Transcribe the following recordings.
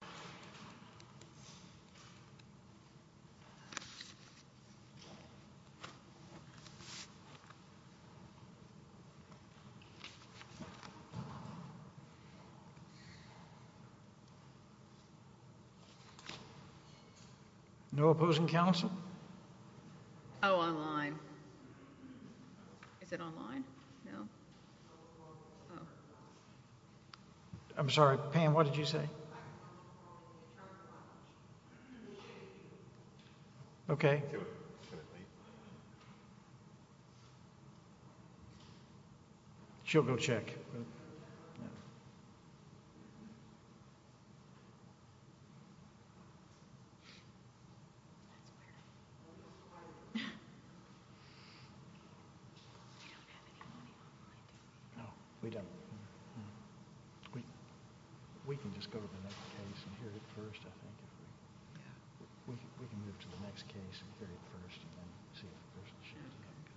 And Roxanne de Villa takes the Color. No opposing council. Oh, on line. Is it online? No. I'm sorry, Pam, what did you say? I'm sorry, I can't hear you. OK. She'll go check. We don't have any money online, do we? No, we don't. We can just go to the next case and hear it first, I think. Yeah. We can move to the next case and hear it first, and then see if the person shares it. OK.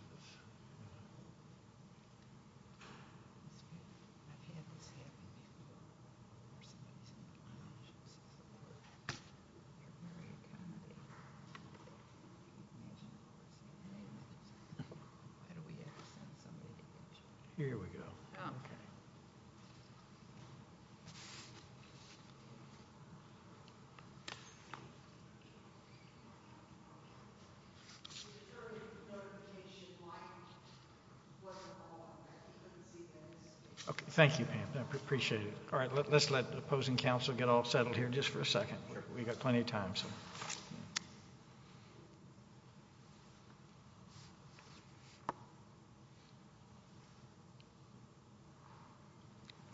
I've had this happen before, where somebody's in the lounge, and she says, Lord, you're very kind of you. You've mentioned the Lord's name. Why do we have to send somebody to get you? Here we go. Oh, OK. It's a very notification-like webinar. I couldn't see the list. OK, thank you, Pam. I appreciate it. All right, let's let the opposing council get all settled here, just for a second. We've got plenty of time.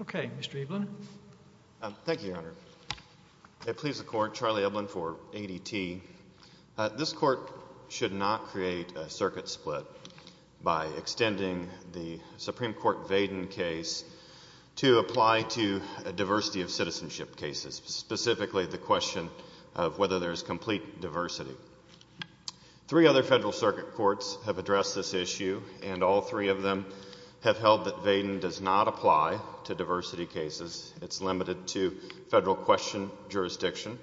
OK. Mr. Ebelin. Thank you, Your Honor. It pleases the court, Charlie Ebelin for ADT. This court should not create a circuit split by extending the Supreme Court Vaden case to apply to a diversity of citizenship cases, specifically the question of whether there is complete diversity. Three other federal circuit courts have addressed this issue, and all three of them have held that Vaden does not apply to diversity cases. It's limited to federal question jurisdiction.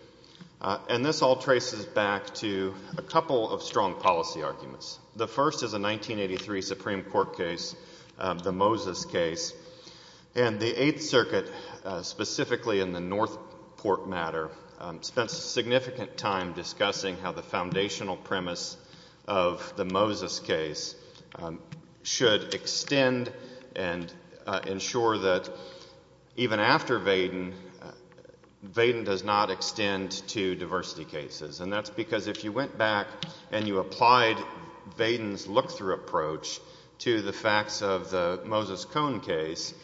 And this all traces back to a couple of strong policy arguments. The first is a 1983 Supreme Court case, the Moses case. And the Eighth Circuit, specifically in the North Port matter, spent significant time discussing how the foundational premise of the Moses case should extend and ensure that, even after Vaden, Vaden does not extend to diversity cases. And that's because if you went back and you applied Vaden's look-through approach to the facts of the Moses Cone case,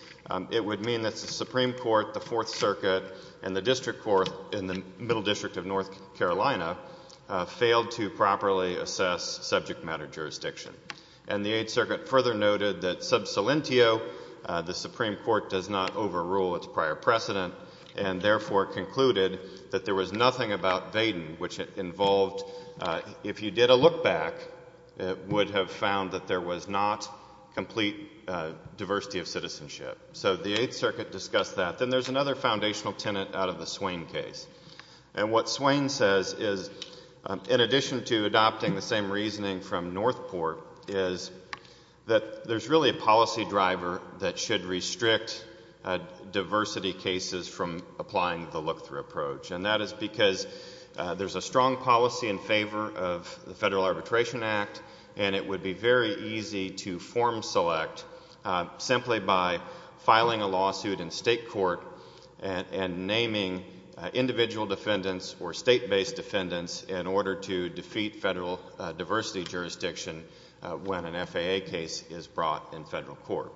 it would mean that the Supreme Court, the Fourth Circuit, and the district court in the Middle District of North Carolina failed to properly assess subject matter jurisdiction. And the Eighth Circuit further noted that sub salientio, the Supreme Court does not overrule its prior precedent, and therefore concluded that there was nothing about Vaden which involved, if you did a look back, it would have found that there was not complete diversity of citizenship. So the Eighth Circuit discussed that. Then there's another foundational tenet out of the Swain case. And what Swain says is, in addition to adopting the same reasoning from Northport, is that there's really a policy driver that should restrict diversity cases from applying the look-through approach. And that is because there's a strong policy in favor of the Federal Arbitration Act. And it would be very easy to form select simply by filing a lawsuit in state court and naming individual defendants or state-based defendants in order to defeat federal diversity jurisdiction when an FAA case is brought in federal court.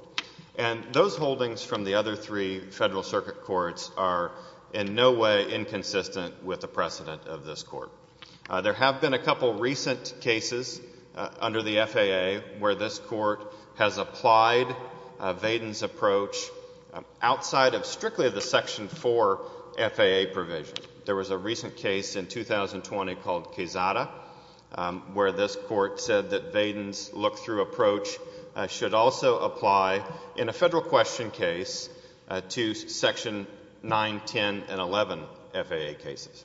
And those holdings from the other three Federal Circuit courts are in no way inconsistent with the precedent of this court. There have been a couple recent cases under the FAA where this court has applied Vaden's approach outside of strictly of the Section 4 FAA provision. There was a recent case in 2020 called Quezada, where this court said that Vaden's look-through approach should also apply in a federal question case to Section 9, 10, and 11 FAA cases.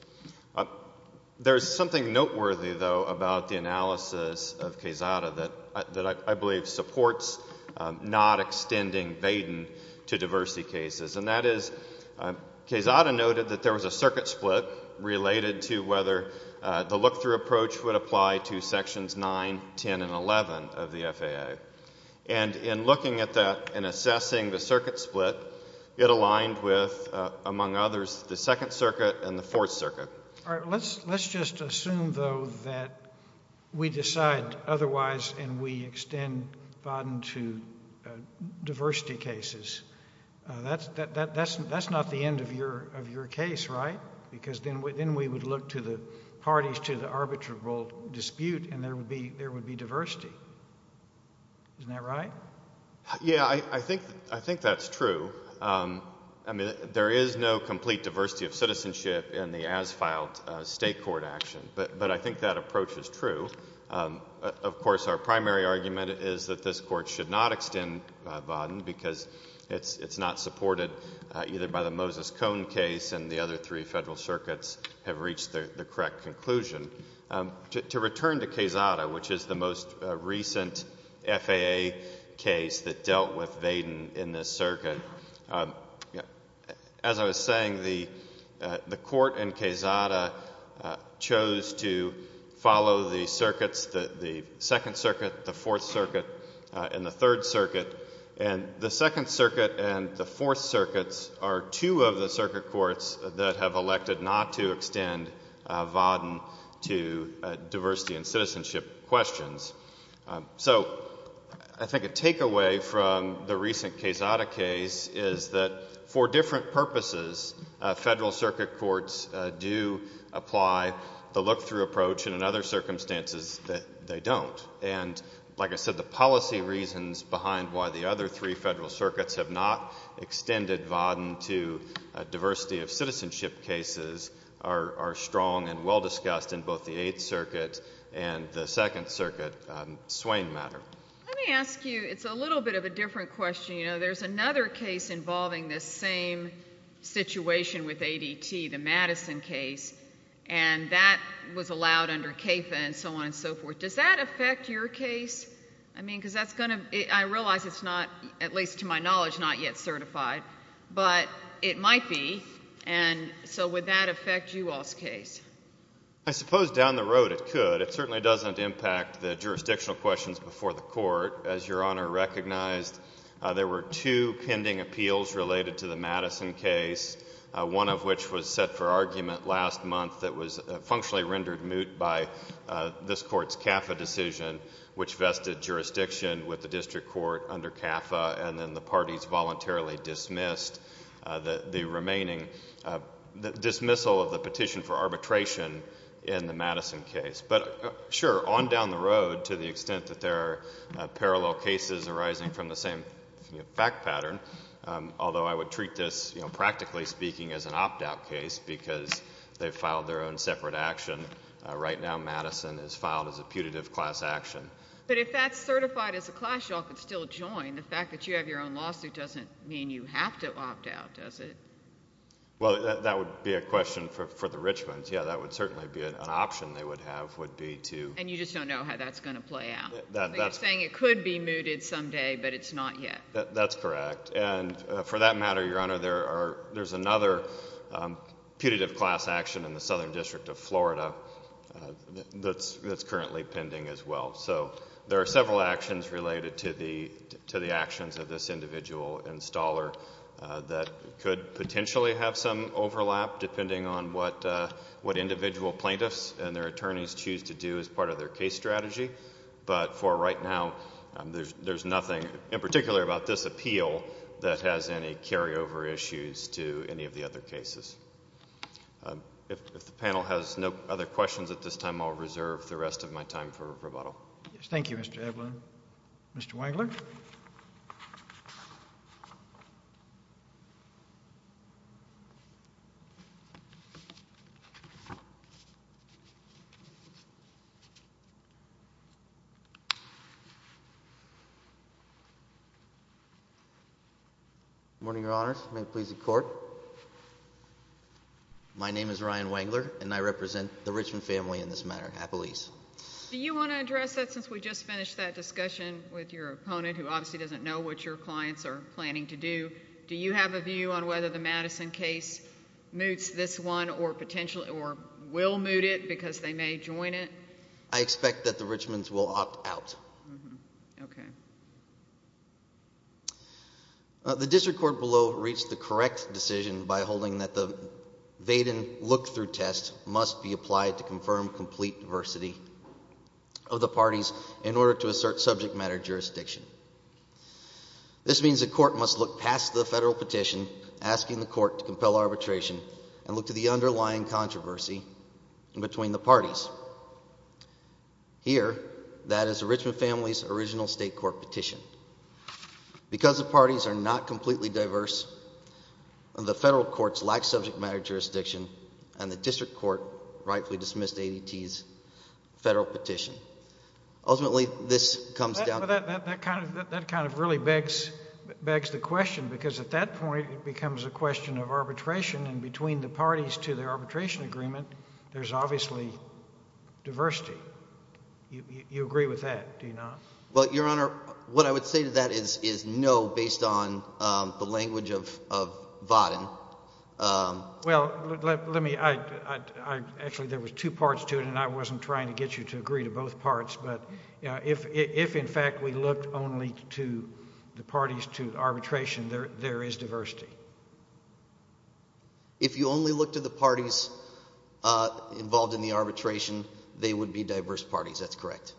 There's something noteworthy, though, about the analysis of Quezada that I believe supports not extending Vaden to diversity cases. And that is, Quezada noted that there was a circuit split related to whether the look-through approach would apply to Sections 9, 10, and 11 of the FAA. And in looking at that and assessing the circuit split, it aligned with, among others, the Second Circuit and the Fourth Circuit. Let's just assume, though, that we decide otherwise and we extend Vaden to diversity cases. That's not the end of your case, right? Because then we would look to the parties to the arbitrable dispute, and there would be diversity. Isn't that right? Yeah, I think that's true. I mean, there is no complete diversity of citizenship in the as-filed state court action. But I think that approach is true. Of course, our primary argument is that this court should not It's not supported either by the Moses Cone case and the other three federal circuits have reached the correct conclusion. To return to Quezada, which is the most recent FAA case that dealt with Vaden in this circuit, as I was saying, the court in Quezada chose to follow the circuits, the Second Circuit, the Fourth Circuit, and the Third Circuit. And the Second Circuit and the Fourth Circuits are two of the circuit courts that have elected not to extend Vaden to diversity and citizenship questions. So I think a takeaway from the recent Quezada case is that, for different purposes, federal circuit courts do apply the look-through approach, and in other circumstances, they don't. And like I said, the policy reasons behind why the other three federal circuits have not extended Vaden to diversity of citizenship cases are strong and well-discussed in both the Eighth Circuit and the Second Circuit. Swain matter. Let me ask you, it's a little bit of a different question. There's another case involving this same situation with ADT, the Madison case. And that was allowed under CAFA and so on and so forth. Does that affect your case? I mean, because that's going to be, I realize it's not, at least to my knowledge, not yet certified. But it might be. And so would that affect you all's case? I suppose down the road it could. It certainly doesn't impact the jurisdictional questions before the court. As Your Honor recognized, there were two pending appeals related to the Madison case, one of which was set for argument last month that was functionally rendered moot by this court's CAFA decision, which vested jurisdiction with the district court under CAFA. And then the parties voluntarily dismissed the remaining dismissal of the petition for arbitration in the Madison case. But sure, on down the road, to the extent that there are parallel cases arising from the same fact pattern, although I would treat this, practically speaking, as an opt-out case because they filed their own separate action. Right now Madison is filed as a putative class action. But if that's certified as a class, you all could still join. The fact that you have your own lawsuit doesn't mean you have to opt out, does it? Well, that would be a question for the Richmonds. Yeah, that would certainly be an option they would have, would be to. And you just don't know how that's going to play out. You're saying it could be mooted someday, but it's not yet. That's correct. And for that matter, Your Honor, there's another putative class action in the Southern District of Florida that's currently pending as well. There are several actions related to the actions of this individual installer that could potentially have some overlap depending on what individual plaintiffs and their attorneys choose to do as part of their case strategy. But for right now, there's nothing, in particular about this appeal, that has any carryover issues to any of the other cases. If the panel has no other questions at this time, I'll reserve the rest of my time for rebuttal. Thank you, Mr. Edlund. Mr. Wangler. Good morning, Your Honors. May it please the Court. My name is Ryan Wangler, and I represent the Richmond family in this matter, Appelese. Do you want to address that since we just finished that discussion with your opponent, who obviously doesn't know what your clients are planning to do? Do you have a view on whether the Madison case moots this one or will moot it because they may join it? I expect that the Richmonds will opt out. The district court below reached the correct decision by holding that the Vaden look-through test must be applied to confirm complete diversity of the parties in order to assert subject matter jurisdiction. This means the court must look past the federal petition asking the court to compel arbitration and look to the underlying controversy between the parties. Here, that is the Richmond family's original state court petition. Because the parties are not completely diverse, the federal courts lack subject matter jurisdiction, and the district court rightfully dismissed ADT's federal petition. Ultimately, this comes down to that. That kind of really begs the question, because at that point, it becomes a question of arbitration. And between the parties to the arbitration agreement, there's obviously diversity. You agree with that, do you not? is no based on the language of Vaden. Well, let me, actually, there was two parts to it, and I wasn't trying to get you to agree to both parts. But if, in fact, we looked only to the parties to arbitration, there is diversity. If you only look to the parties involved in the arbitration, they would be diverse parties. That's correct.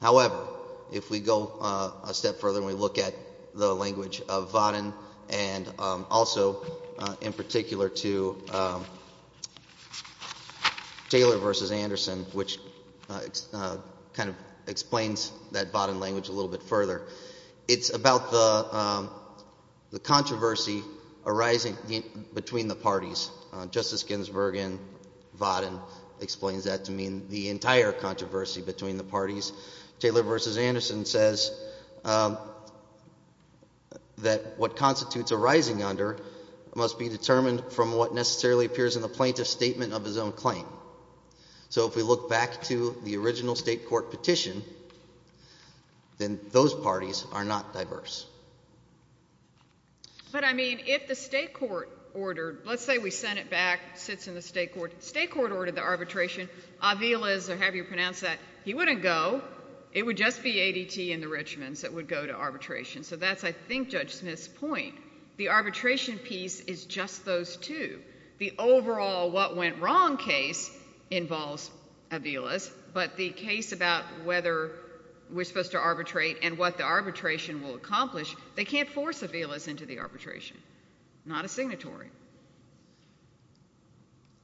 However, if we go a step further and we look at the language of Vaden, and also in particular to Taylor versus Anderson, which kind of explains that Vaden language a little bit further, it's about the controversy arising between the parties. Justice Ginsburg in Vaden explains that to mean the entire controversy between the parties. Taylor versus Anderson says that what constitutes arising under must be determined from what necessarily appears in the plaintiff's statement of his own claim. So if we look back to the original state court petition, then those parties are not diverse. But I mean, if the state court ordered, let's say we sent it back, sits in the state court, state court ordered the arbitration, Aviles, or however you pronounce that, he wouldn't go. It would just be ADT and the Richmonds that would go to arbitration. So that's, I think, Judge Smith's point. The arbitration piece is just those two. The overall what went wrong case involves Aviles. But the case about whether we're supposed to arbitrate and what the arbitration will accomplish, they can't force Aviles into the arbitration. Not a signatory.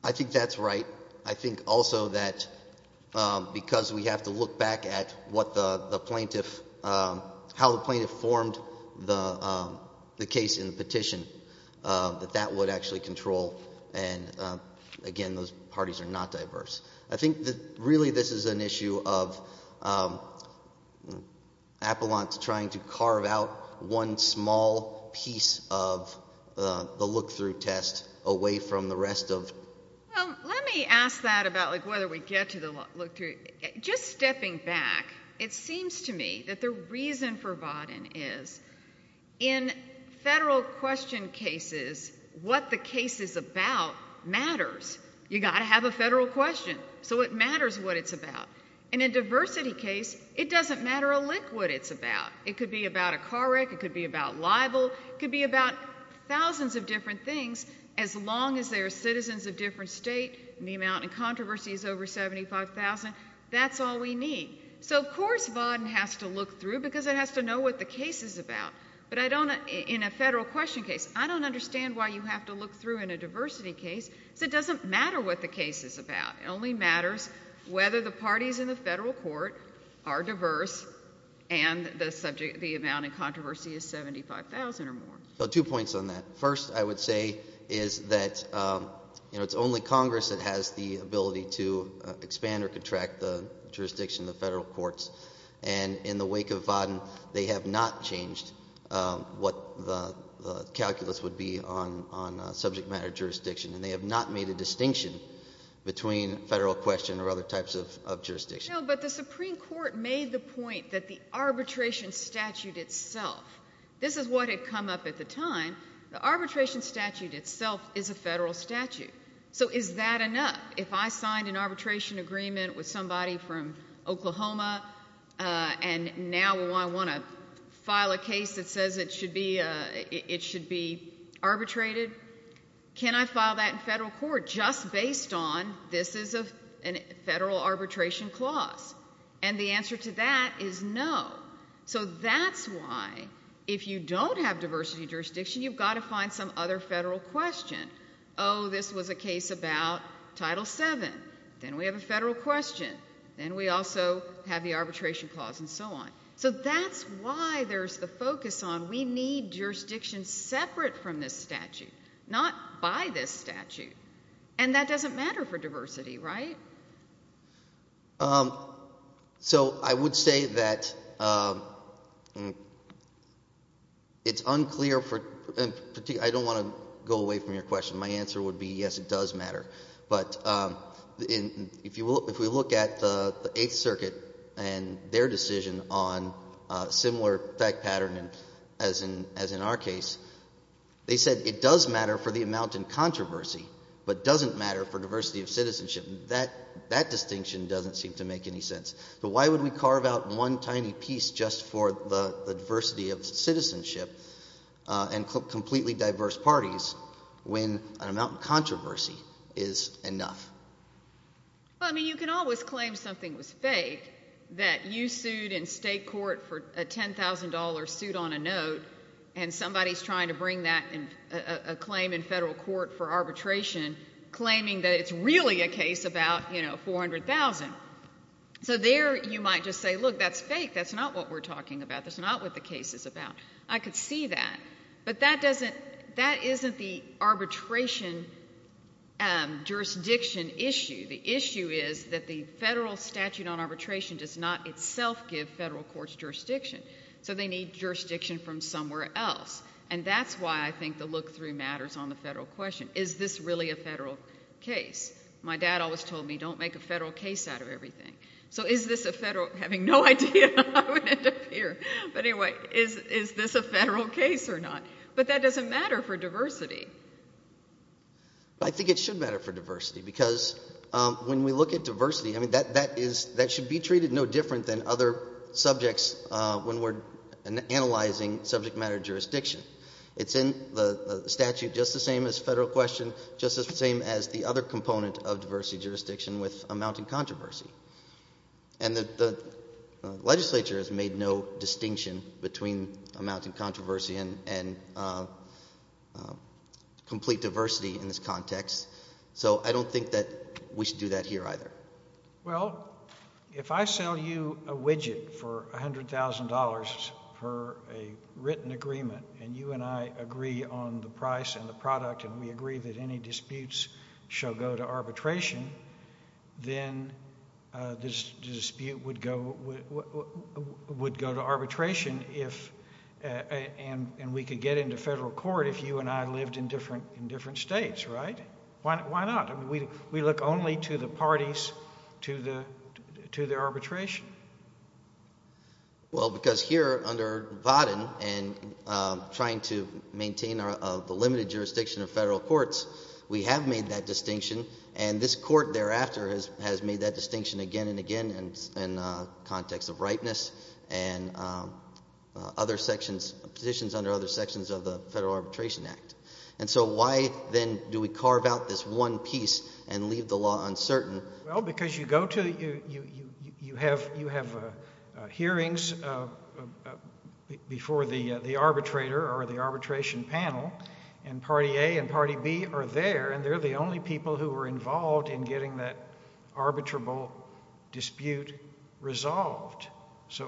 I think that's right. I think also that because we have to look back at how the plaintiff formed the case in the petition, that that would actually control. And again, those parties are not diverse. I think that really this is an issue of Appalant trying to carve out one small piece of the look-through test away from the rest of. Let me ask that about whether we get to the look-through. Just stepping back, it seems to me that the reason for Vodden is in federal question cases, what the case is about matters. You got to have a federal question. So it matters what it's about. In a diversity case, it doesn't matter a lick what it's about. It could be about a car wreck. It could be about libel. It could be about thousands of different things as long as they are citizens of different state and the amount in controversy is over 75,000. That's all we need. So of course Vodden has to look through because it has to know what the case is about. But in a federal question case, I don't understand why you have to look through in a diversity case because it doesn't matter what the case is about. It only matters whether the parties in the federal court are diverse and the amount in controversy is 75,000 or more. Two points on that. First, I would say is that it's only Congress that has the ability to expand or contract the jurisdiction of the federal courts. And in the wake of Vodden, they have not changed what the calculus would be on subject matter jurisdiction. And they have not made a distinction between federal question or other types of jurisdiction. But the Supreme Court made the point that the arbitration statute itself, this is what had come up at the time. The arbitration statute itself is a federal statute. So is that enough? If I signed an arbitration agreement with somebody from Oklahoma and now I want to file a case that says it should be arbitrated, can I file that in federal court just based on this is a federal arbitration clause? And the answer to that is no. So that's why if you don't have diversity jurisdiction, you've got to find some other federal question. Oh, this was a case about Title VII. Then we have a federal question. Then we also have the arbitration clause and so on. So that's why there's the focus on we need jurisdiction separate from this statute, not by this statute. And that doesn't matter for diversity, right? So I would say that it's unclear for particular. I don't want to go away from your question. My answer would be, yes, it does matter. But if we look at the Eighth Circuit and their decision on a similar fact pattern as in our case, they said it does matter for the amount in controversy, but doesn't matter for diversity of citizenship. That distinction doesn't seem to make any sense. But why would we carve out one tiny piece just for the diversity of citizenship and completely diverse parties when an amount in controversy is enough? Well, I mean, you can always claim something was fake, that you sued in state court for a $10,000 suit on a note, and somebody is trying to bring that claim in federal court for arbitration, claiming that it's really a case about $400,000. So there, you might just say, look, that's fake. That's not what we're talking about. That's not what the case is about. I could see that. But that isn't the arbitration jurisdiction issue. The issue is that the federal statute on arbitration does not itself give federal courts jurisdiction. So they need jurisdiction from somewhere else. And that's why I think the look-through matters on the federal question. Is this really a federal case? My dad always told me, don't make a federal case out of everything. So is this a federal? Having no idea, I would end up here. But anyway, is this a federal case or not? But that doesn't matter for diversity. But I think it should matter for diversity. Because when we look at diversity, I mean, that should be treated no different than other subjects when we're analyzing subject matter jurisdiction. It's in the statute just the same as federal question, just the same as the other component of diversity jurisdiction with amounting controversy. And the legislature has made no distinction between amounting controversy and complete diversity in this context. So I don't think that we should do that here either. Well, if I sell you a widget for $100,000 for a written agreement, and you and I agree on the price and the product, and we agree that any disputes shall go to arbitration, then this dispute would go to arbitration and we could get into federal court if you and I lived in different states, right? Why not? We look only to the parties, to the arbitration. Well, because here under Vodden and trying to maintain the limited jurisdiction of federal courts, we have made that distinction. And this court thereafter has made that distinction again and again in the context of rightness and positions under other sections of the Federal Arbitration Act. And so why, then, do we carve out this one piece and leave the law uncertain? Well, because you have hearings before the arbitrator or the arbitration panel, and party A and party B are there. And they're the only people who are involved in getting that arbitrable dispute resolved. So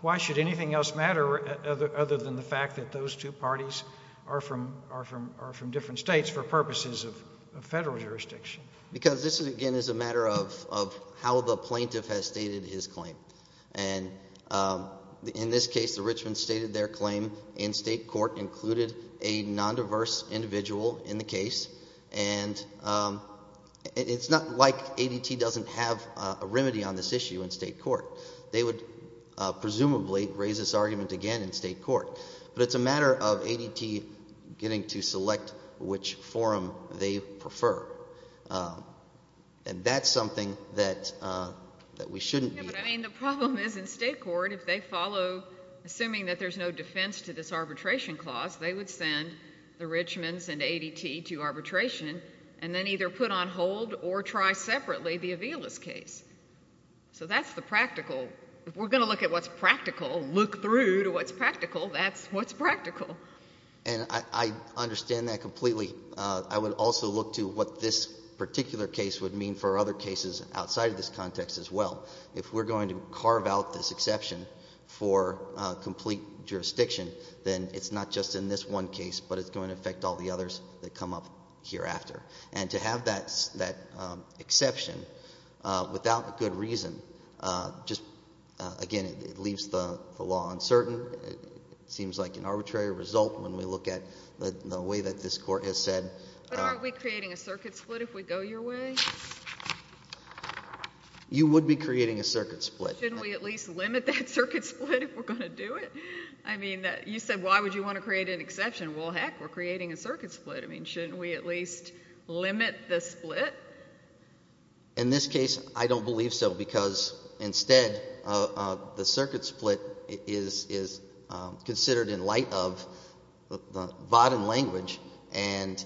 why should anything else matter other than the fact that those two parties are from different states for purposes of federal jurisdiction? Because this, again, is a matter of how the plaintiff has stated his claim. And in this case, the Richmonds stated their claim in state court, included a non-diverse individual in the case. And it's not like ADT doesn't have a remedy on this issue in state court. They would presumably raise this argument again in state court. But it's a matter of ADT getting to select which forum they prefer. And that's something that we shouldn't be doing. But I mean, the problem is in state court, if they follow, assuming that there's no defense to this arbitration clause, they would send the Richmonds and ADT to arbitration and then either put on hold or try separately the Avila's case. So that's the practical. If we're going to look at what's practical, look through to what's practical, that's what's practical. And I understand that completely. I would also look to what this particular case would mean for other cases outside of this context as well. If we're going to carve out this exception for complete jurisdiction, then it's not just in this one case, but it's going to affect all the others that come up hereafter. And to have that exception without a good reason, just again, it leaves the law uncertain. Seems like an arbitrary result when we look at the way that this court has said. But aren't we creating a circuit split if we go your way? You would be creating a circuit split. Shouldn't we at least limit that circuit split if we're going to do it? I mean, you said, why would you want to create an exception? Well, heck, we're creating a circuit split. I mean, shouldn't we at least limit the split? In this case, I don't believe so. Because instead, the circuit split is considered in light of the Vodun language and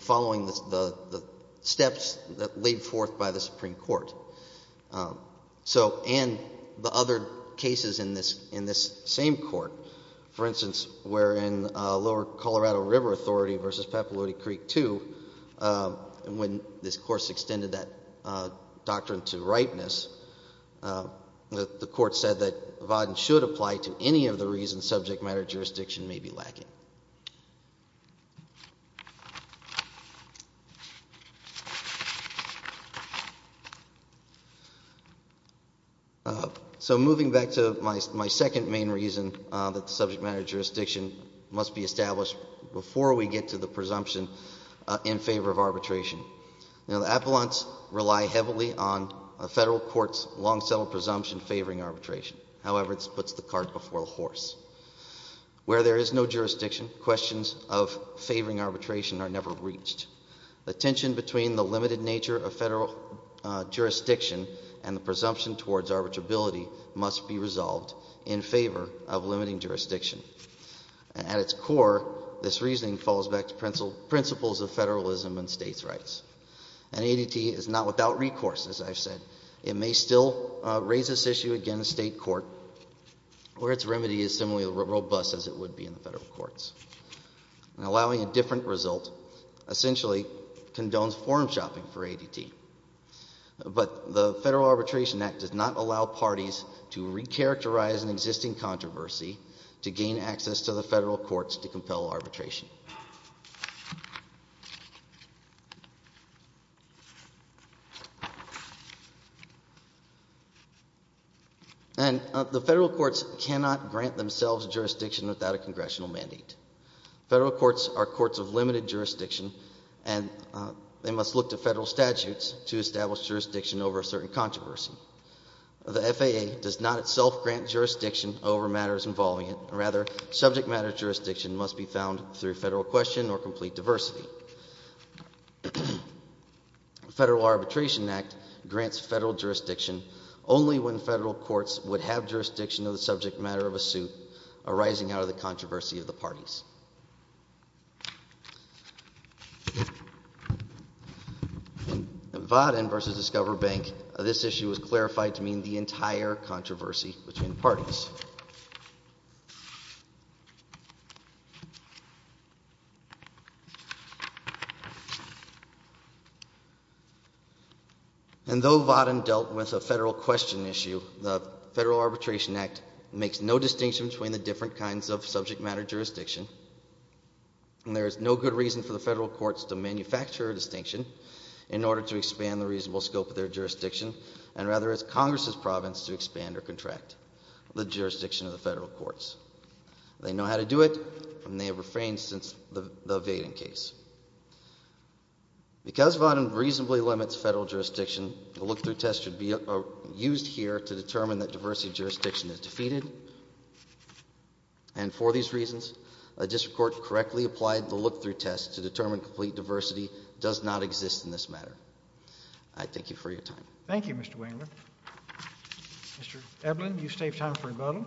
following the steps that laid forth by the Supreme Court. And the other cases in this same court. For instance, we're in Lower Colorado River Authority versus Papaloodie Creek II, when this course extended that doctrine to ripeness. The court said that Vodun should apply to any of the reasons subject matter jurisdiction may be lacking. So moving back to my second main reason that the subject matter jurisdiction must be established before we get to the presumption in favor of arbitration. Now, the appellants rely heavily on a federal court's long-settled presumption favoring arbitration. However, this puts the cart before the horse. Where there is no jurisdiction, questions of favoring arbitration are never reached. The tension between the limited nature of federal jurisdiction and the presumption towards arbitrability must be resolved in favor of limiting jurisdiction. At its core, this reasoning falls back principles of federalism and states' rights. And ADT is not without recourse, as I've said. It may still raise this issue again in state court, where its remedy is similarly robust as it would be in the federal courts. And allowing a different result essentially condones form shopping for ADT. But the Federal Arbitration Act does not allow parties to recharacterize an existing controversy to gain access to the federal courts to compel arbitration. And the federal courts cannot grant themselves jurisdiction without a congressional mandate. Federal courts are courts of limited jurisdiction, and they must look to federal statutes to establish jurisdiction over a certain controversy. The FAA does not itself grant jurisdiction over matters involving it. Rather, subject matter jurisdiction must be found through federal question or complete diversity. The Federal Arbitration Act grants federal jurisdiction only when federal courts would have jurisdiction of the subject matter of a suit arising out of the controversy of the parties. In Vodden v. Discover Bank, this issue was clarified to mean the entire controversy between parties. And though Vodden dealt with a federal question issue, the Federal Arbitration Act makes no distinction between the different kinds of subject matter jurisdiction. And there is no good reason for the federal courts to manufacture a distinction in order to expand the reasonable scope of their jurisdiction, and rather it's Congress's province to expand or contract the jurisdiction of the federal courts. They know how to do it, and they have refrained since the Vating case. Because Vodden reasonably limits federal jurisdiction, the look-through test should be used here to determine that diversity jurisdiction is defeated. And for these reasons, a district court correctly applied the look-through test to determine complete diversity does not exist in this matter. I thank you for your time. Thank you, Mr. Wangler. Mr. Ebelin, you've saved time for rebuttal.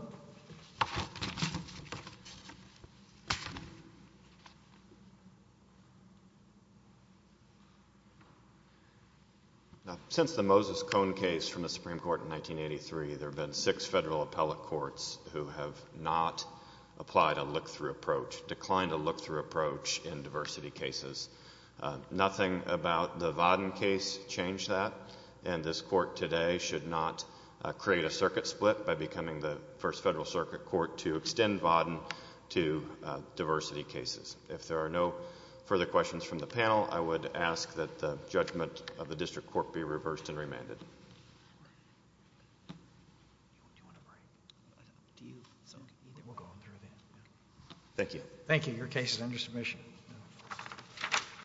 Since the Moses Cohn case from the Supreme Court in 1983, there have been six federal appellate courts who have not applied a look-through approach, declined a look-through approach in diversity cases. Nothing about the Vodden case changed that. And this court today should not create a circuit split by becoming the first federal circuit court to extend Vodden to diversity cases. If there are no further questions from the panel, I would ask that the judgment of the district court be reversed and remanded. Thank you. Thank you. Your case is under submission.